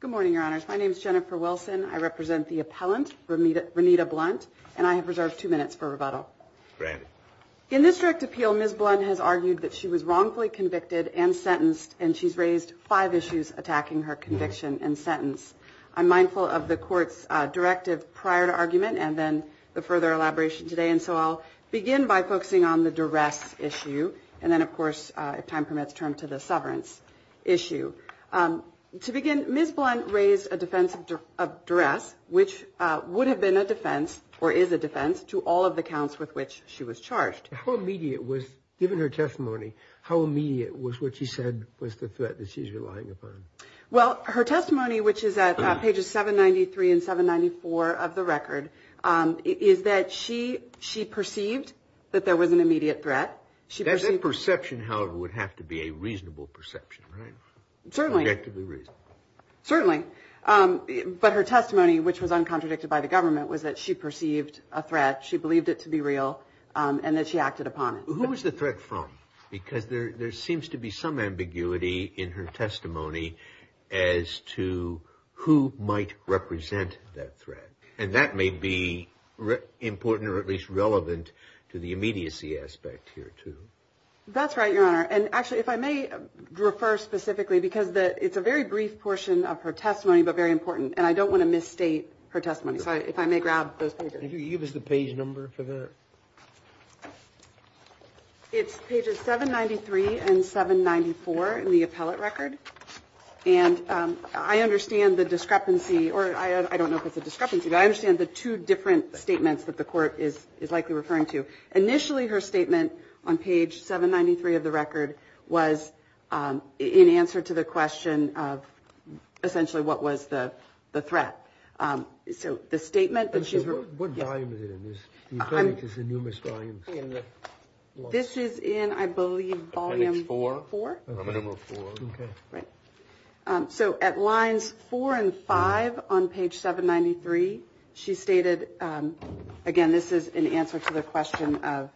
Good morning, Your Honors. My name is Jennifer Wilson. I represent the appellant, Renita Blunt, and I have reserved two minutes for rebuttal. In this direct appeal, Ms. Blunt has argued that she was wrongfully convicted and sentenced, and she's raised five issues attacking her conviction and sentence. I'm mindful of the begin by focusing on the duress issue, and then, of course, if time permits, turn to the sovereigns issue. To begin, Ms. Blunt raised a defense of duress, which would have been a defense, or is a defense, to all of the counts with which she was charged. How immediate was, given her testimony, how immediate was what she said was the threat that she's relying upon? Well, her testimony, which is at pages 793 and 794 of the record, is that she perceived that there was an immediate threat. That perception, however, would have to be a reasonable perception, right? Certainly. Objectively reasonable. Certainly. But her testimony, which was uncontradicted by the government, was that she perceived a threat, she believed it to be real, and that she acted upon it. Who was the threat from? Because there seems to be some ambiguity in her testimony as to who might represent that threat. And that may be important, or at least relevant, to the immediacy aspect here, too. That's right, Your Honor. And actually, if I may refer specifically, because it's a very brief portion of her testimony, but very important, and I don't want to misstate her testimony. So if I may grab those pages. Give us the page number for that. It's pages 793 and 794 in the appellate record. And I understand the discrepancy, or I don't know if it's a discrepancy, but I understand the two different statements that the Court is likely referring to. Initially, her statement on page 793 of the record was in answer to the question of essentially what was the threat. What volume is it in? The appendix is in numerous volumes. This is in, I believe, volume 4. Appendix 4? Number 4. Okay. So at lines 4 and 5 on page 793, she stated, again, this is in answer to the question of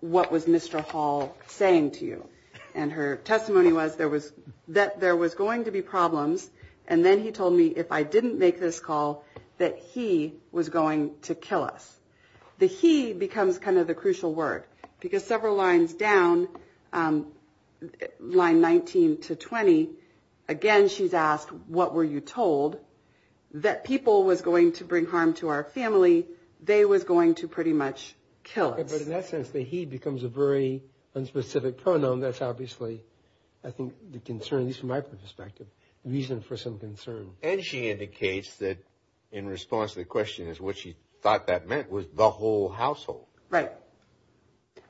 what was Mr. Hall saying to you. And her testimony was that there was going to be problems, and then he told me if I didn't make this call, that he was going to kill us. The he becomes kind of the crucial word, because several lines down, line 19 to 20, again, she's asked, what were you told? That people was going to bring harm to our family. They was going to pretty much kill us. But in that sense, the he becomes a very unspecific pronoun. That's obviously, I think, the concern, at least from my perspective, the reason for some concern. And she indicates that in response to the question is what she thought that meant was the whole household. Right.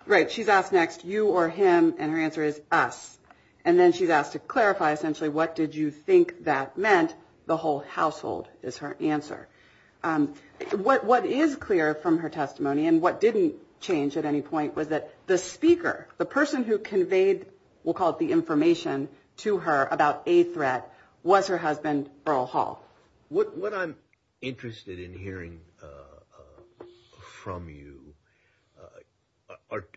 Right. She's asked next, you or him, and her answer is us. And then she's asked to clarify essentially what did you think that meant? The whole household is her answer. What is clear from her testimony, and what didn't change at any point, was that the speaker, the person who conveyed, we'll call it the information, to her about a threat was her husband, Earl Hall. What I'm interested in hearing from you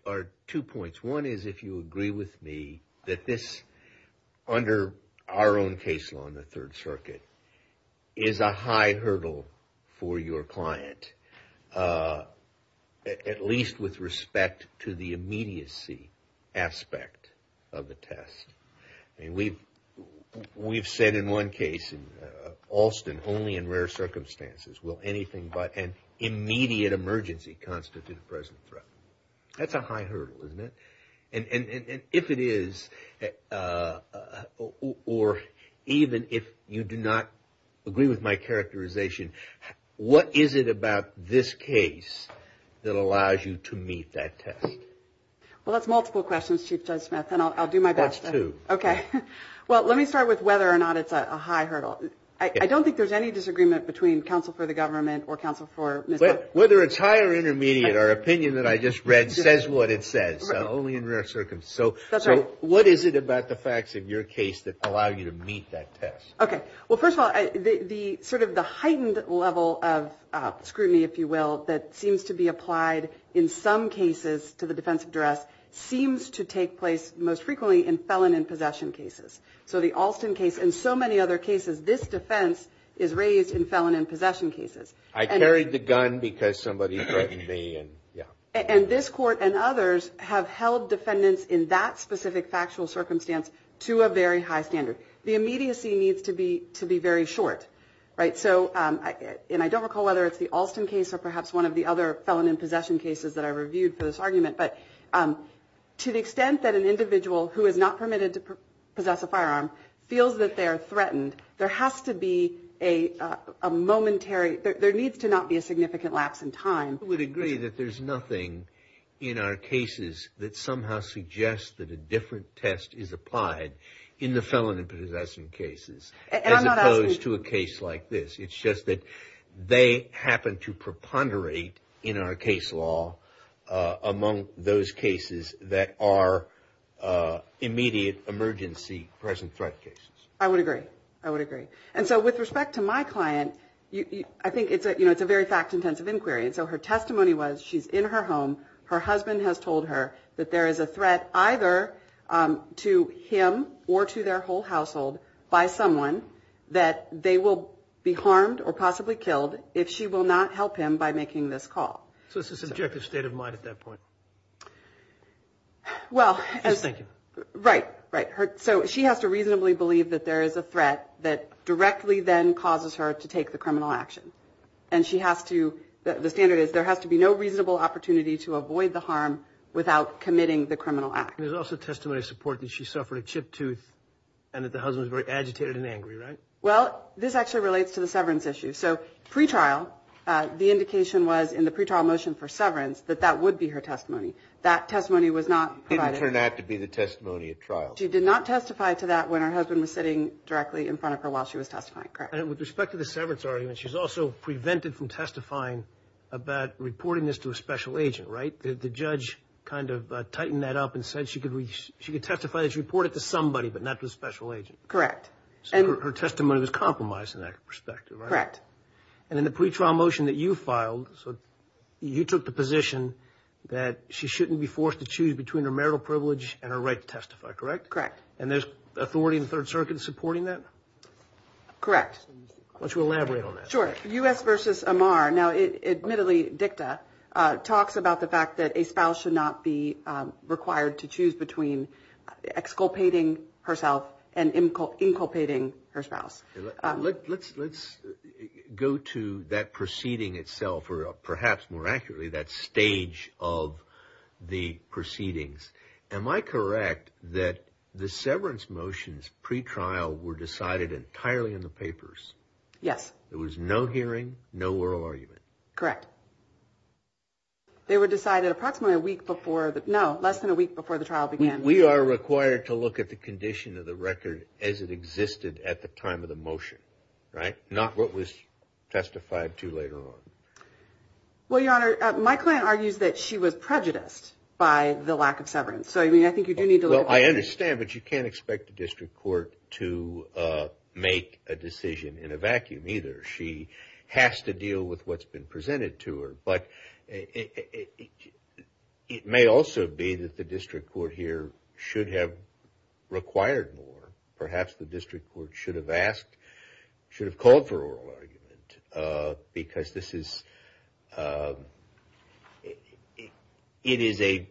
are two points. One is if you agree with me that this, under our own case law in the Third Circuit, is a high hurdle for your client. At least with respect to the immediacy aspect of the test. We've said in one case, in Alston, only in rare circumstances will anything but an immediate emergency constitute a present threat. That's a high hurdle, isn't it? And if it is, or even if you do not agree with my characterization, what is it about this case that allows you to meet that test? Well, that's multiple questions, Chief Judge Smith, and I'll do my best to. That's two. Okay. Well, let me start with whether or not it's a high hurdle. I don't think there's any disagreement between counsel for the government or counsel for Ms. Buck. Whether it's high or intermediate, our opinion that I just read says what it says. Only in rare circumstances. That's right. So what is it about the facts of your case that allow you to meet that test? Okay. Well, first of all, sort of the heightened level of scrutiny, if you will, that seems to be applied in some cases to the defense of duress, seems to take place most frequently in felon and possession cases. So the Alston case and so many other cases, this defense is raised in felon and possession cases. I carried the gun because somebody threatened me and, yeah. And this court and others have held defendants in that specific factual circumstance to a very high standard. The immediacy needs to be very short, right? So, and I don't recall whether it's the Alston case or perhaps one of the other felon and possession cases that I reviewed for this argument, but to the extent that an individual who is not permitted to possess a firearm feels that they are threatened, there has to be a momentary, there needs to not be a significant lapse in time. I would agree that there's nothing in our cases that somehow suggests that a different test is applied in the felon and possession cases as opposed to a case like this. It's just that they happen to preponderate in our case law among those cases that are immediate emergency present threat cases. I would agree. I would agree. And so with respect to my client, I think it's a very fact-intensive inquiry. And so her testimony was she's in her home. Her husband has told her that there is a threat either to him or to their whole household by someone that they will be harmed or possibly killed if she will not help him by making this call. So it's a subjective state of mind at that point. Well. Just thinking. Right, right. So she has to reasonably believe that there is a threat that directly then causes her to take the criminal action. And she has to, the standard is there has to be no reasonable opportunity to avoid the harm without committing the criminal act. There's also testimony of support that she suffered a chipped tooth and that the husband was very agitated and angry, right? Well, this actually relates to the severance issue. So pretrial, the indication was in the pretrial motion for severance that that would be her testimony. That testimony was not provided. Didn't turn out to be the testimony at trial. She did not testify to that when her husband was sitting directly in front of her while she was testifying, correct? And with respect to the severance argument, she's also prevented from testifying about reporting this to a special agent, right? The judge kind of tightened that up and said she could testify that she reported it to somebody but not to a special agent. Correct. So her testimony was compromised in that perspective, right? Correct. And in the pretrial motion that you filed, you took the position that she shouldn't be forced to choose between her marital privilege and her right to testify, correct? Correct. And there's authority in the Third Circuit supporting that? Correct. Why don't you elaborate on that? Sure. U.S. v. Amar. Now, admittedly, DICTA talks about the fact that a spouse should not be required to choose between exculpating herself and inculpating her spouse. Let's go to that proceeding itself, or perhaps more accurately, that stage of the proceedings. Am I correct that the severance motions pretrial were decided entirely in the papers? Yes. There was no hearing, no oral argument? Correct. They were decided approximately a week before the – no, less than a week before the trial began. We are required to look at the condition of the record as it existed at the time of the motion, right? Not what was testified to later on. Well, Your Honor, my client argues that she was prejudiced by the lack of severance. So, I mean, I think you do need to look at that. Well, I understand, but you can't expect the district court to make a decision in a vacuum either. She has to deal with what's been presented to her. But it may also be that the district court here should have required more. Perhaps the district court should have asked – should have called for oral argument. Because this is – it is a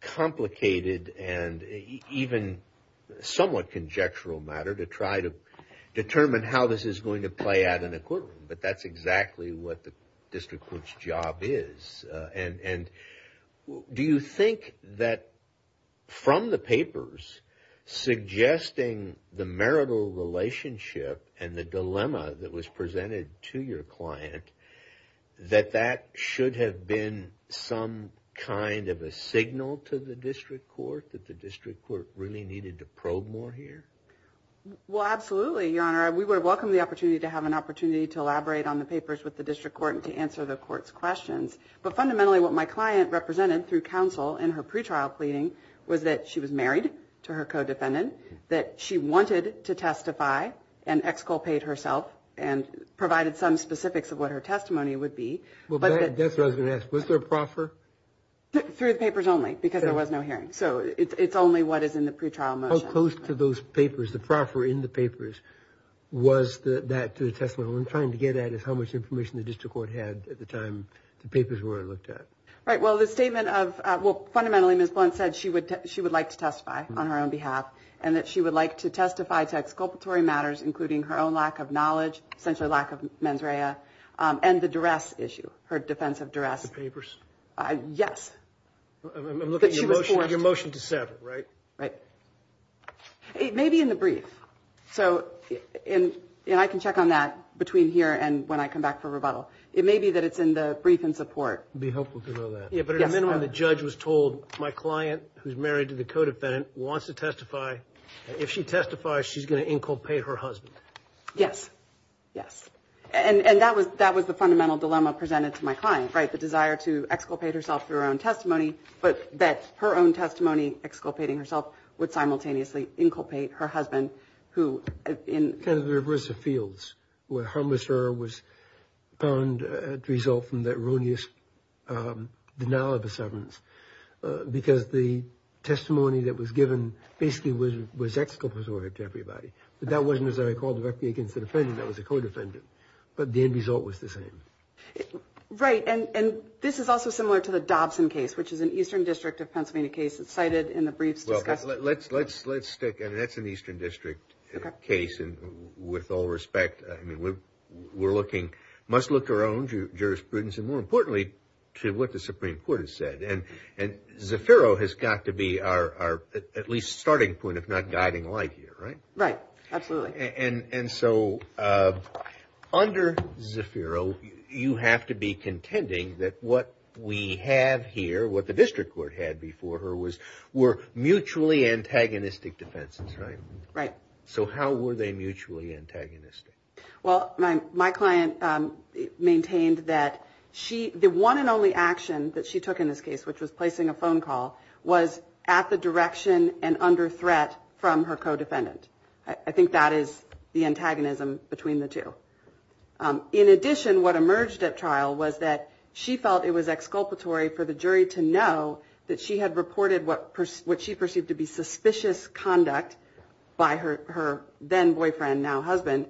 complicated and even somewhat conjectural matter to try to determine how this is going to play out in a courtroom. But that's exactly what the district court's job is. And do you think that from the papers suggesting the marital relationship and the dilemma that was presented to your client, that that should have been some kind of a signal to the district court that the district court really needed to probe more here? Well, absolutely, Your Honor. We would welcome the opportunity to have an opportunity to elaborate on the papers with the district court and to answer the court's questions. But fundamentally, what my client represented through counsel in her pretrial pleading was that she was married to her co-defendant, that she wanted to testify and exculpate herself and provided some specifics of what her testimony would be. Well, that's what I was going to ask. Was there a proffer? Through the papers only, because there was no hearing. So it's only what is in the pretrial motion. How close to those papers, the proffer in the papers, was that to the testimony? What I'm trying to get at is how much information the district court had at the time the papers were looked at. Right. Well, the statement of, well, fundamentally, Ms. Blunt said she would like to testify on her own behalf and that she would like to testify to exculpatory matters, including her own lack of knowledge, essentially lack of mens rea, and the duress issue, her defense of duress. The papers? Yes. I'm looking at your motion to sever, right? Right. Maybe in the brief. So I can check on that between here and when I come back for rebuttal. It may be that it's in the brief in support. It would be helpful to know that. Yes. But at a minimum, the judge was told, my client, who's married to the co-defendant, wants to testify. If she testifies, she's going to inculpate her husband. Yes. Yes. And that was the fundamental dilemma presented to my client, right, the desire to exculpate herself through her own testimony, but that her own testimony, exculpating herself, would simultaneously inculpate her husband, who in- Kind of the reverse of fields, where her misdreavor was found to result from that erroneous denial of a severance, because the testimony that was given basically was exculpatory to everybody. But that wasn't, as I recall, directly against the defendant. That was a co-defendant. But the end result was the same. Right. And this is also similar to the Dobson case, which is an Eastern District of Pennsylvania case. It's cited in the briefs discussed. Well, let's stick, I mean, that's an Eastern District case. And with all respect, I mean, we're looking, must look to our own jurisprudence, and more importantly, to what the Supreme Court has said. And Zafiro has got to be our at least starting point, if not guiding light here, right? Right. Absolutely. And so under Zafiro, you have to be contending that what we have here, what the District Court had before her, were mutually antagonistic defenses, right? Right. So how were they mutually antagonistic? Well, my client maintained that the one and only action that she took in this case, which was placing a phone call, was at the direction and under threat from her co-defendant. I think that is the antagonism between the two. In addition, what emerged at trial was that she felt it was exculpatory for the jury to know that she had reported what she perceived to be suspicious conduct by her then boyfriend, now husband,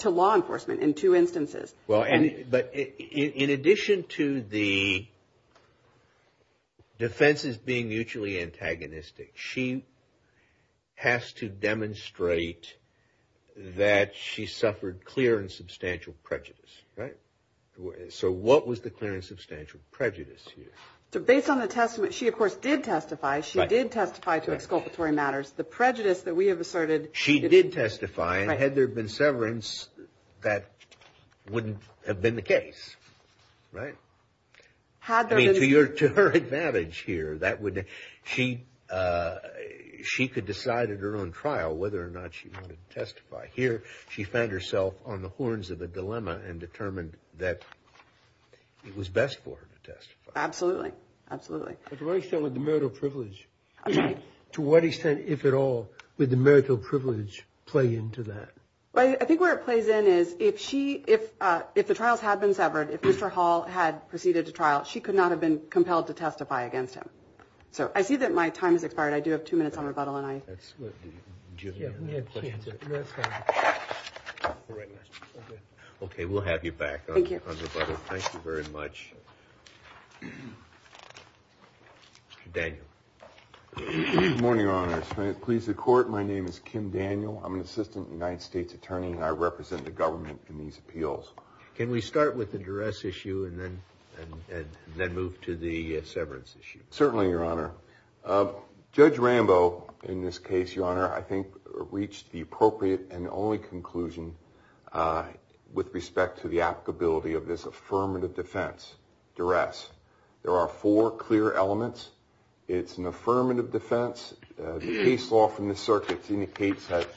to law enforcement in two instances. Well, but in addition to the defenses being mutually antagonistic, she has to demonstrate that she suffered clear and substantial prejudice, right? So what was the clear and substantial prejudice here? So based on the testimony, she, of course, did testify. She did testify to exculpatory matters. The prejudice that we have asserted. She did testify, and had there been severance, that wouldn't have been the case, right? I mean, to her advantage here, she could decide at her own trial whether or not she wanted to testify. Here, she found herself on the horns of a dilemma and determined that it was best for her to testify. Absolutely. Absolutely. To what extent would the marital privilege play into that? I think where it plays in is if the trials had been severed, if Mr. Hall had proceeded to trial, she could not have been compelled to testify against him. So I see that my time has expired. I do have two minutes on rebuttal. Okay. We'll have you back on rebuttal. Thank you very much. Daniel. Good morning, Your Honor. Pleased to court. My name is Kim Daniel. I'm an assistant United States attorney, and I represent the government in these appeals. Can we start with the duress issue and then move to the severance issue? Certainly, Your Honor. Judge Rambo, in this case, Your Honor, I think reached the appropriate and only conclusion with respect to the applicability of this affirmative defense duress. There are four clear elements. It's an affirmative defense. The case law from the circuits indicates that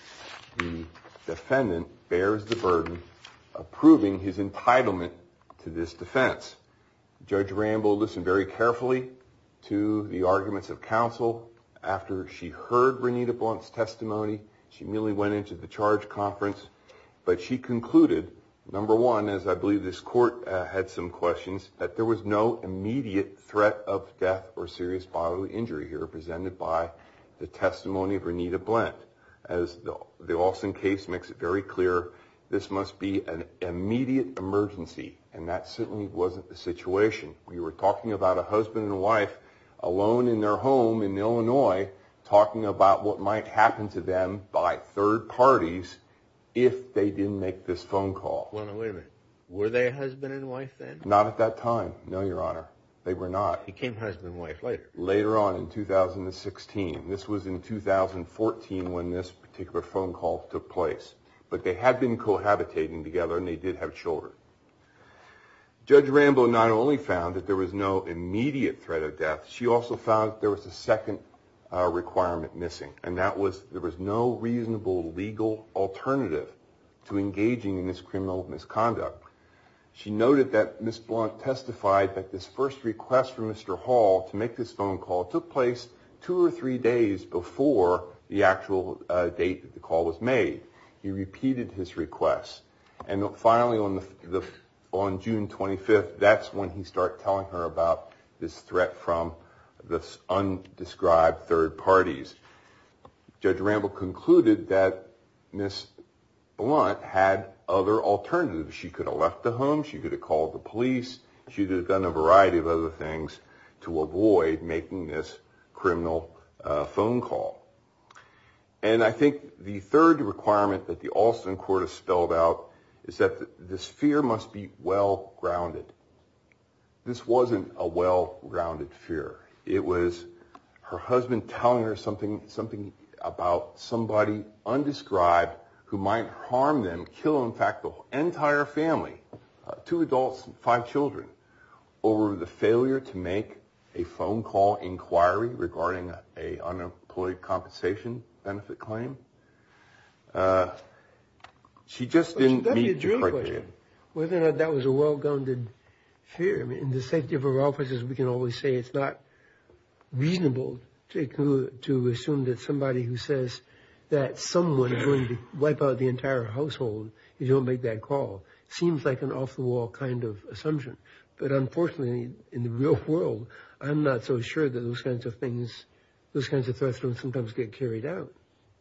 the defendant bears the burden of proving his entitlement to this defense. Judge Rambo listened very carefully to the arguments of counsel. After she heard Renita Blunt's testimony, she immediately went into the charge conference, but she concluded, number one, as I believe this court had some questions, that there was no immediate threat of death or serious bodily injury here represented by the testimony of Renita Blunt. As the Olson case makes it very clear, this must be an immediate emergency, and that certainly wasn't the situation. We were talking about a husband and wife alone in their home in Illinois, talking about what might happen to them by third parties if they didn't make this phone call. Wait a minute. Were they a husband and wife then? Not at that time, no, Your Honor. They were not. He became husband and wife later. Later on in 2016. This was in 2014 when this particular phone call took place. But they had been cohabitating together, and they did have children. Judge Rambo not only found that there was no immediate threat of death, she also found that there was a second requirement missing, and that was there was no reasonable legal alternative to engaging in this criminal misconduct. She noted that Ms. Blunt testified that this first request from Mr. Hall to make this phone call took place two or three days before the actual date that the call was made. He repeated his request, and finally on June 25th, that's when he started telling her about this threat from the undescribed third parties. Judge Rambo concluded that Ms. Blunt had other alternatives. She could have left the home. She could have called the police. She could have done a variety of other things to avoid making this criminal phone call. And I think the third requirement that the Alston Court has spelled out is that this fear must be well-grounded. This wasn't a well-grounded fear. It was her husband telling her something about somebody undescribed who might harm them, kill in fact the entire family, two adults and five children, over the failure to make a phone call inquiry regarding an unemployed compensation benefit claim. She just didn't meet the criteria. Whether or not that was a well-grounded fear, in the safety of our offices we can always say it's not reasonable to assume that somebody who says that someone is going to wipe out the entire household if you don't make that call seems like an off-the-wall kind of assumption. But unfortunately, in the real world, I'm not so sure that those kinds of things, those kinds of threats don't sometimes get carried out.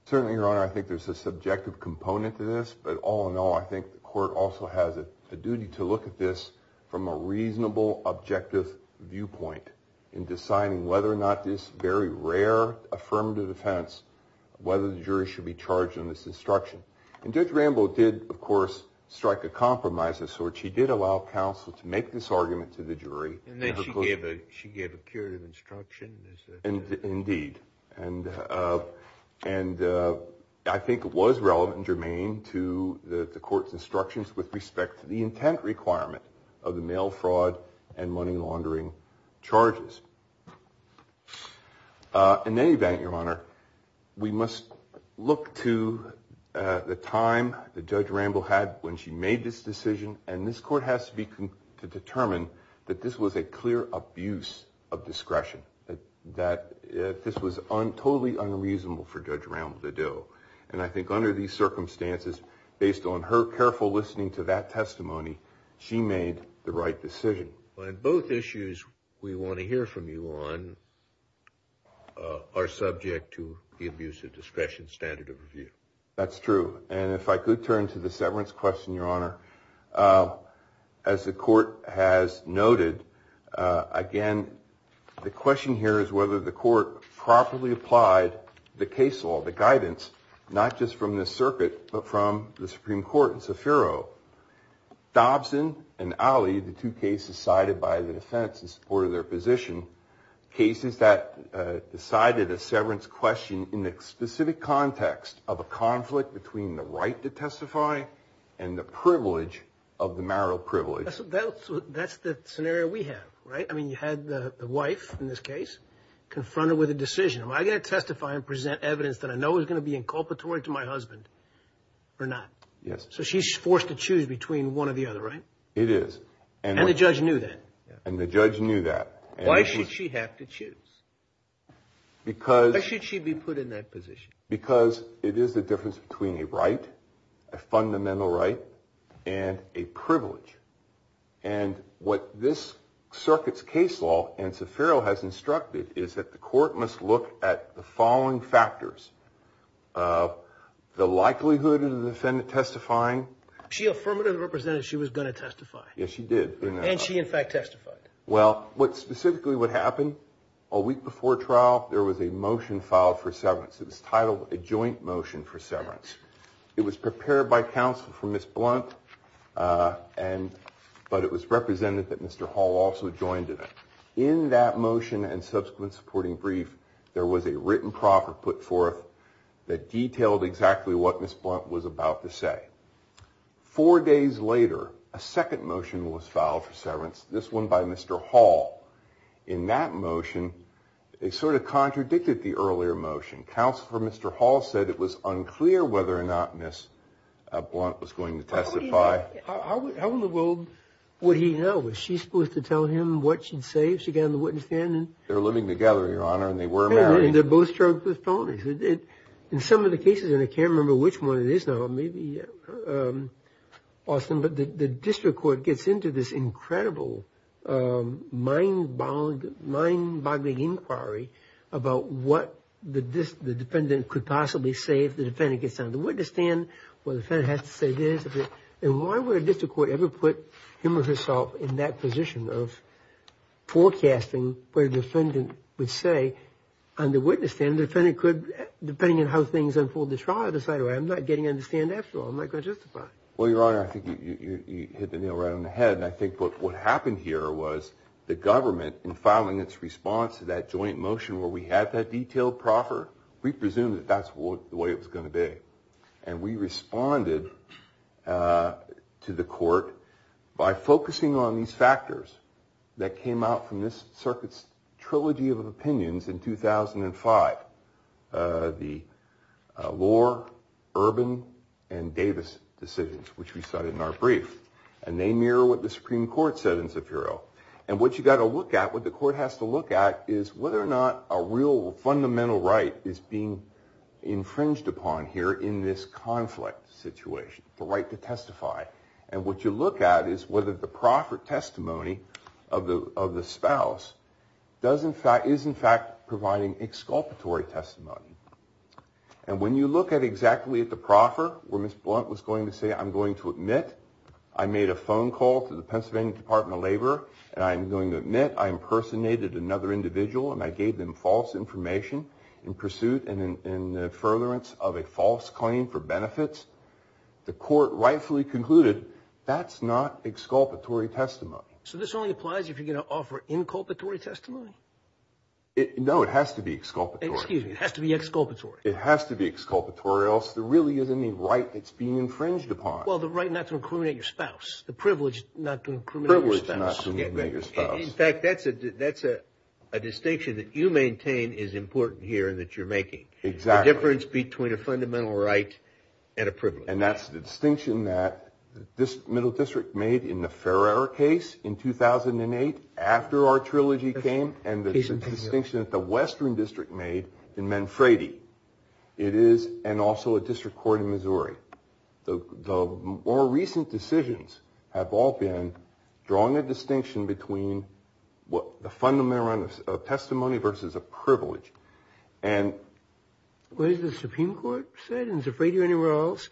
Certainly, Your Honor, I think there's a subjective component to this. But all in all, I think the court also has a duty to look at this from a reasonable, objective viewpoint in deciding whether or not this very rare affirmative defense, whether the jury should be charged in this instruction. And Judge Rambo did, of course, strike a compromise of sorts. She did allow counsel to make this argument to the jury. And then she gave a curative instruction. Indeed. And I think it was relevant and germane to the court's instructions with respect to the intent requirement of the mail fraud and money laundering charges. In any event, Your Honor, we must look to the time that Judge Rambo had when she made this decision. And this court has to determine that this was a clear abuse of discretion, that this was totally unreasonable for Judge Rambo to do. And I think under these circumstances, based on her careful listening to that testimony, she made the right decision. So on both issues we want to hear from you on are subject to the abuse of discretion standard of review. That's true. And if I could turn to the severance question, Your Honor. As the court has noted, again, the question here is whether the court properly applied the case law, the guidance, not just from this circuit, but from the Supreme Court and Sofero. Dobson and Ali, the two cases cited by the defense in support of their position, cases that decided a severance question in the specific context of a conflict between the right to testify and the privilege of the marital privilege. That's the scenario we have, right? I mean, you had the wife in this case confronted with a decision. Am I going to testify and present evidence that I know is going to be inculpatory to my husband or not? Yes. So she's forced to choose between one or the other, right? It is. And the judge knew that. And the judge knew that. Why should she have to choose? Because. Why should she be put in that position? Because it is the difference between a right, a fundamental right, and a privilege. And what this circuit's case law and Sofero has instructed is that the court must look at the following factors. The likelihood of the defendant testifying. She affirmatively represented she was going to testify. Yes, she did. And she, in fact, testified. Well, what specifically would happen, a week before trial, there was a motion filed for severance. It was titled a joint motion for severance. It was prepared by counsel for Ms. Blunt, but it was represented that Mr. Hall also joined in it. In that motion and subsequent supporting brief, there was a written proffer put forth that detailed exactly what Ms. Blunt was about to say. Four days later, a second motion was filed for severance, this one by Mr. Hall. In that motion, it sort of contradicted the earlier motion. Counsel for Mr. Hall said it was unclear whether or not Ms. Blunt was going to testify. How in the world would he know? Was she supposed to tell him what she'd say? If she got on the witness stand? They were living together, Your Honor, and they were married. And they're both charged with felonies. In some of the cases, and I can't remember which one it is now, maybe, Austin, but the district court gets into this incredible mind-boggling inquiry about what the defendant could possibly say if the defendant gets on the witness stand. Well, the defendant has to say this. And why would a district court ever put him or herself in that position of forecasting what a defendant would say on the witness stand? The defendant could, depending on how things unfold in the trial, decide, well, I'm not getting on the stand after all. I'm not going to testify. Well, Your Honor, I think you hit the nail right on the head. And I think what happened here was the government, in filing its response to that joint motion where we had that detailed proffer, we presumed that that's the way it was going to be. And we responded to the court by focusing on these factors that came out from this circuit's trilogy of opinions in 2005, the Lohr, Urban, and Davis decisions, which we cited in our brief. And they mirror what the Supreme Court said in Zafiro. And what you've got to look at, what the court has to look at, is whether or not a real fundamental right is being infringed upon here in this conflict situation, the right to testify. And what you look at is whether the proffer testimony of the spouse is, in fact, providing exculpatory testimony. And when you look at exactly at the proffer, where Ms. Blunt was going to say, I'm going to admit I made a phone call to the Pennsylvania Department of Labor and I'm going to admit I impersonated another individual and I gave them false information in pursuit and in the furtherance of a false claim for benefits, the court rightfully concluded that's not exculpatory testimony. So this only applies if you're going to offer inculpatory testimony? No, it has to be exculpatory. Excuse me, it has to be exculpatory. It has to be exculpatory or else there really isn't any right that's being infringed upon. Well, the right not to incriminate your spouse, the privilege not to incriminate your spouse. In fact, that's a distinction that you maintain is important here and that you're making. Exactly. The difference between a fundamental right and a privilege. And that's the distinction that this middle district made in the Ferrer case in 2008 after our trilogy came and the distinction that the western district made in Manfredi. It is, and also a district court in Missouri. The more recent decisions have all been drawing a distinction between the fundamental right of testimony versus a privilege. What has the Supreme Court said? And is it fair to you anywhere else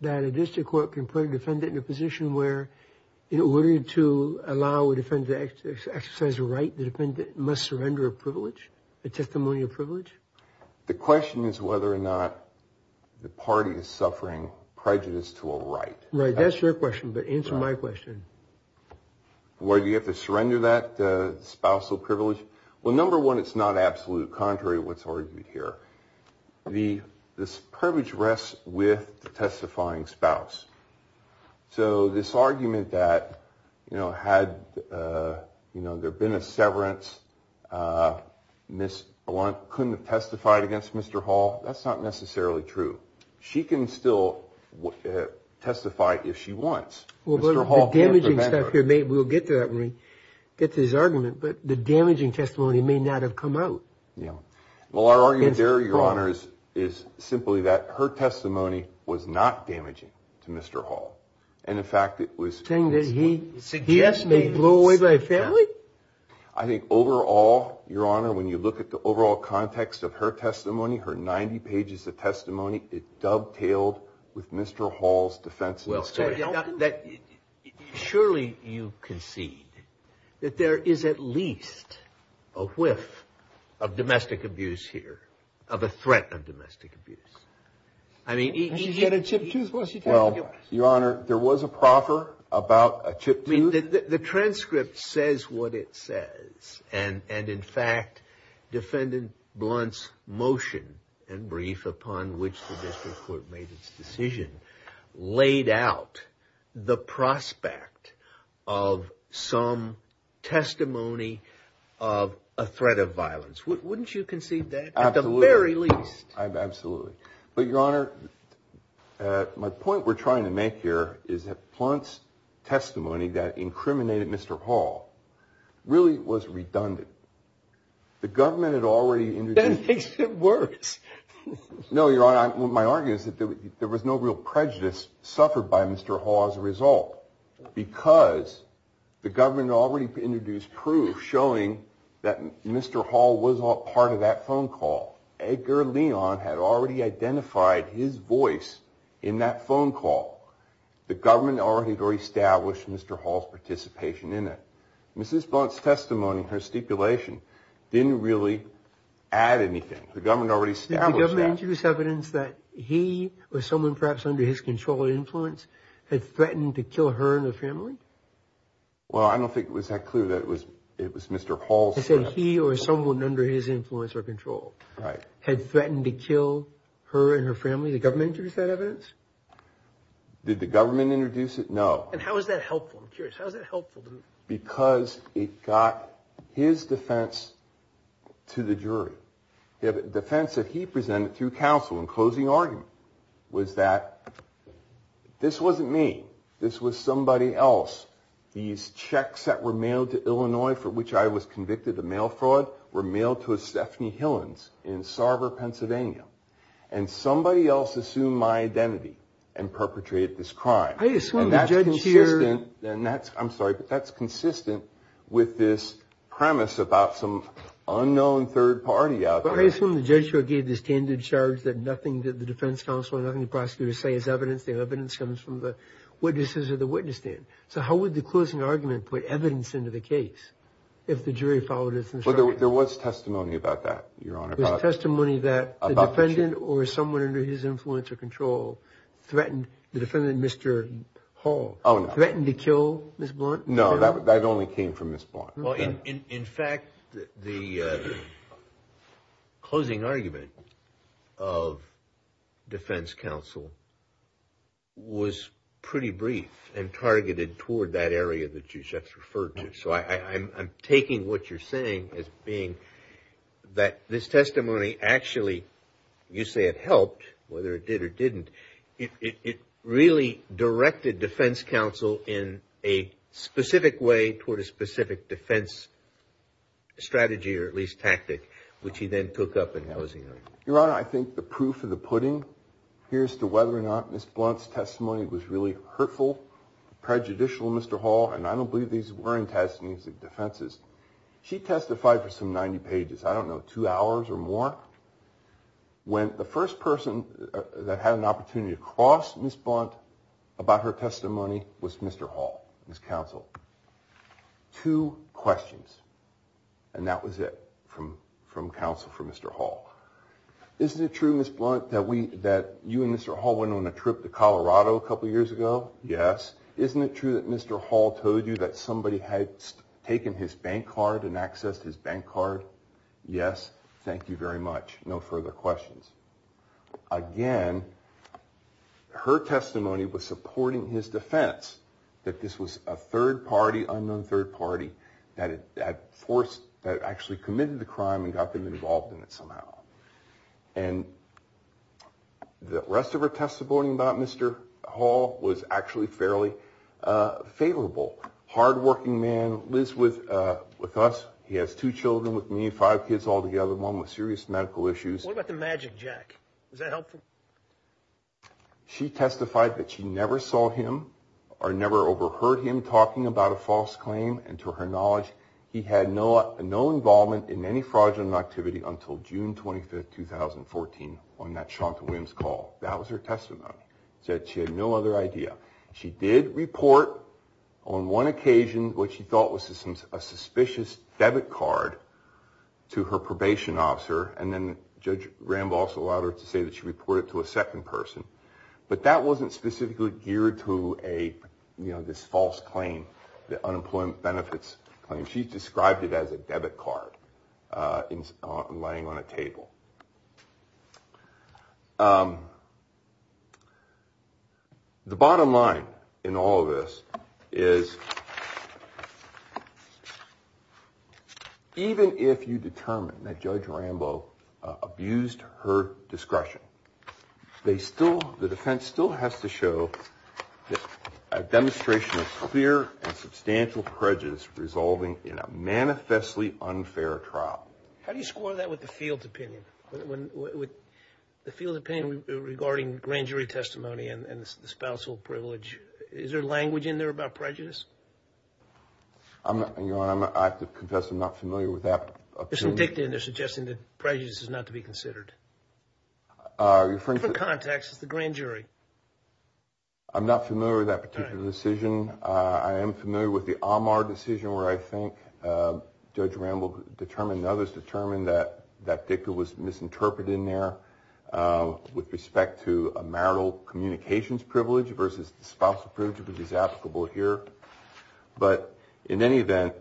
that a district court can put a defendant in a position where in order to allow a defendant to exercise a right, The question is whether or not the party is suffering prejudice to a right. Right. That's your question. But answer my question. Why do you have to surrender that spousal privilege? Well, number one, it's not absolute contrary to what's argued here. The privilege rests with the testifying spouse. So this argument that, you know, had there been a severance, Miss Blunt couldn't have testified against Mr. Hall, that's not necessarily true. She can still testify if she wants. Well, the damaging stuff here, we'll get to that when we get to his argument, but the damaging testimony may not have come out. Yeah. Well, our argument there, Your Honors, is simply that her testimony was not damaging to Mr. Hall. And in fact, it was. Saying that he. Suggested. He may blow away by a family? I think overall, Your Honor, when you look at the overall context of her testimony, her 90 pages of testimony, it dovetailed with Mr. Hall's defense. Well, surely you concede that there is at least a whiff of domestic abuse here, of a threat of domestic abuse. I mean. Well, Your Honor, there was a proffer about a chip. The transcript says what it says. And in fact, Defendant Blunt's motion and brief upon which the district court made its decision, laid out the prospect of some testimony of a threat of violence. Wouldn't you concede that? Absolutely. At the very least. Absolutely. But, Your Honor, my point we're trying to make here is that Blunt's testimony that incriminated Mr. Hall really was redundant. The government had already introduced. That makes it worse. No, Your Honor. My argument is that there was no real prejudice suffered by Mr. Hall as a result, because the government already introduced proof showing that Mr. Hall was all part of that phone call. Edgar Leon had already identified his voice in that phone call. The government already established Mr. Hall's participation in it. Mrs. Blunt's testimony, her stipulation, didn't really add anything. The government already established that. Did the government introduce evidence that he or someone perhaps under his control or influence had threatened to kill her and her family? Well, I don't think it was that clear that it was Mr. Hall's threat. I said he or someone under his influence or control had threatened to kill her and her family. Did the government introduce that evidence? Did the government introduce it? No. And how is that helpful? I'm curious. How is that helpful? Because it got his defense to the jury. The defense that he presented through counsel in closing argument was that this wasn't me. This was somebody else. These checks that were mailed to Illinois for which I was convicted of mail fraud were mailed to a Stephanie Hillens in Sarver, Pennsylvania. And somebody else assumed my identity and perpetrated this crime. And that's consistent with this premise about some unknown third party out there. That's when the judge gave the standard charge that nothing that the defense counsel or nothing the prosecutor say is evidence. The evidence comes from the witnesses or the witness stand. So how would the closing argument put evidence into the case if the jury followed its instruction? There was testimony about that, Your Honor. There was testimony that the defendant or someone under his influence or control threatened, the defendant, Mr. Hall, threatened to kill Ms. Blunt? No, that only came from Ms. Blunt. In fact, the closing argument of defense counsel was pretty brief and targeted toward that area that you just referred to. So I'm taking what you're saying as being that this testimony actually, you say it helped, whether it did or didn't. It really directed defense counsel in a specific way toward a specific defense strategy or at least tactic, which he then took up in closing argument. Your Honor, I think the proof of the pudding here as to whether or not Ms. Blunt's testimony was really hurtful, prejudicial, Mr. Hall, and I don't believe these were intestinal defenses. She testified for some 90 pages, I don't know, two hours or more. When the first person that had an opportunity to cross Ms. Blunt about her testimony was Mr. Hall, his counsel. Two questions, and that was it from counsel for Mr. Hall. Isn't it true, Ms. Blunt, that you and Mr. Hall went on a trip to Colorado a couple years ago? Yes. Isn't it true that Mr. Hall told you that somebody had taken his bank card and accessed his bank card? Yes. Thank you very much. No further questions. Again, her testimony was supporting his defense that this was a third party, unknown third party, that had forced, that actually committed the crime and got them involved in it somehow. And the rest of her testimony about Mr. Hall was actually fairly favorable. Hard-working man, lives with us. He has two children with me, five kids all together, one with serious medical issues. What about the magic jack? Was that helpful? She testified that she never saw him or never overheard him talking about a false claim, and to her knowledge, he had no involvement in any fraudulent activity until June 25, 2014, on that Shonta Williams call. That was her testimony. She said she had no other idea. She did report on one occasion what she thought was a suspicious debit card to her probation officer, and then Judge Rambo also allowed her to say that she reported it to a second person. But that wasn't specifically geared to this false claim, the unemployment benefits claim. She described it as a debit card laying on a table. The bottom line in all of this is even if you determine that Judge Rambo abused her discretion, the defense still has to show a demonstration of clear and substantial prejudice resolving in a manifestly unfair trial. How do you score that with the field's opinion? With the field's opinion regarding grand jury testimony and the spousal privilege, is there language in there about prejudice? Your Honor, I have to confess I'm not familiar with that opinion. There's some dicta in there suggesting that prejudice is not to be considered. Different context. It's the grand jury. I'm not familiar with that particular decision. I am familiar with the Amar decision where I think Judge Rambo determined, and others determined, that that dicta was misinterpreted in there with respect to a marital communications privilege versus the spousal privilege, which is applicable here. But in any event,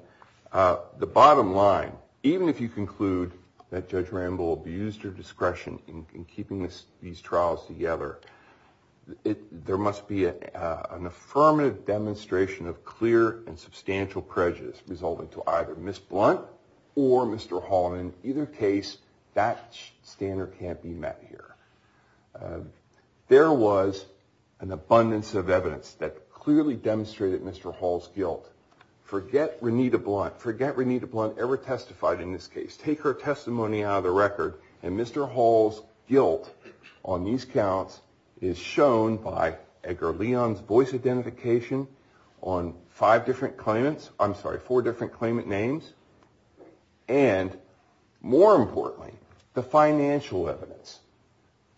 the bottom line, even if you conclude that Judge Rambo abused her discretion in keeping these trials together, there must be an affirmative demonstration of clear and substantial prejudice resulting to either Ms. Blunt or Mr. Hall. In either case, that standard can't be met here. There was an abundance of evidence that clearly demonstrated Mr. Hall's guilt. Forget Renita Blunt. Forget Renita Blunt ever testified in this case. Take her testimony out of the record, and Mr. Hall's guilt on these counts is shown by Edgar Leon's voice identification on five different claimants. I'm sorry, four different claimant names. And more importantly, the financial evidence.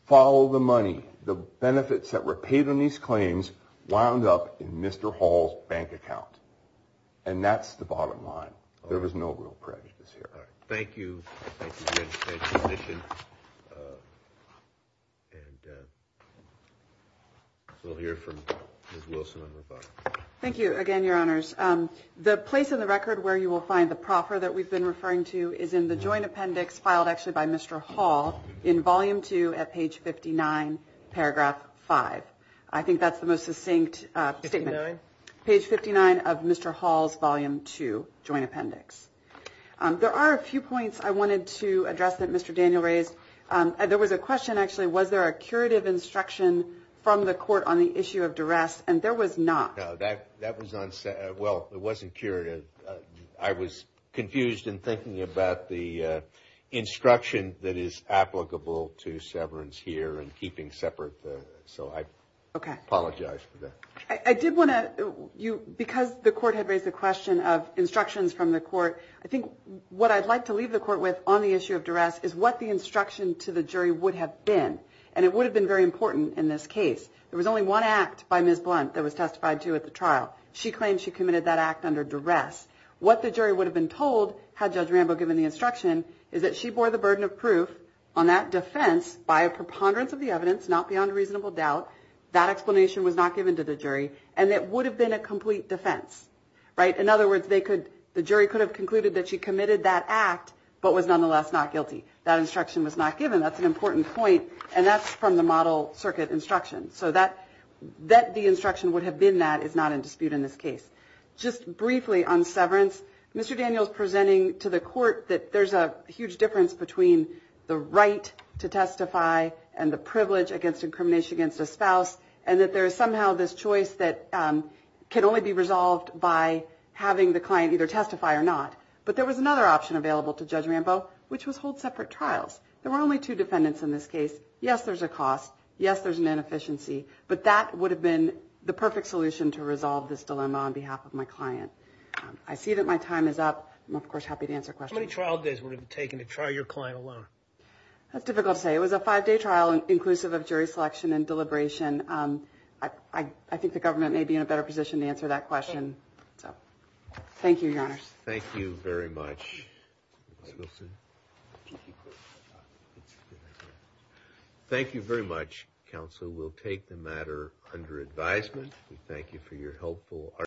Follow the money. The benefits that were paid on these claims wound up in Mr. Hall's bank account. And that's the bottom line. There was no real prejudice here. All right. Thank you. Thank you again. Thank you for your attention. And we'll hear from Ms. Wilson and Roboto. Thank you again, Your Honors. The place in the record where you will find the proffer that we've been referring to is in the joint appendix filed actually by Mr. Hall in Volume 2 at page 59, paragraph 5. I think that's the most succinct statement. Page 59? Page 59 of Mr. Hall's Volume 2 joint appendix. There are a few points I wanted to address that Mr. Daniel raised. There was a question, actually, was there a curative instruction from the court on the issue of duress? And there was not. No, that was unsaid. Well, it wasn't curative. I was confused in thinking about the instruction that is applicable to severance here and keeping separate. So I apologize for that. I did want to, because the court had raised the question of instructions from the court, I think what I'd like to leave the court with on the issue of duress is what the instruction to the jury would have been. And it would have been very important in this case. There was only one act by Ms. Blunt that was testified to at the trial. She claimed she committed that act under duress. What the jury would have been told had Judge Rambo given the instruction is that she bore the burden of proof on that defense by a preponderance of the evidence, not beyond reasonable doubt. That explanation was not given to the jury, and it would have been a complete defense. In other words, the jury could have concluded that she committed that act but was nonetheless not guilty. That instruction was not given. That's an important point, and that's from the model circuit instruction. So that the instruction would have been that is not in dispute in this case. Just briefly on severance, Mr. Daniels presenting to the court that there's a huge difference between the right to testify and the privilege against incrimination against a spouse, and that there is somehow this choice that can only be resolved by having the client either testify or not. But there was another option available to Judge Rambo, which was hold separate trials. There were only two defendants in this case. Yes, there's a cost. Yes, there's an inefficiency. But that would have been the perfect solution to resolve this dilemma on behalf of my client. I see that my time is up. I'm, of course, happy to answer questions. How many trial days would it have taken to trial your client alone? That's difficult to say. It was a five-day trial inclusive of jury selection and deliberation. I think the government may be in a better position to answer that question. So thank you, Your Honors. Thank you very much. Thank you very much, counsel. We'll take the matter under advisement. We thank you for your helpful argument.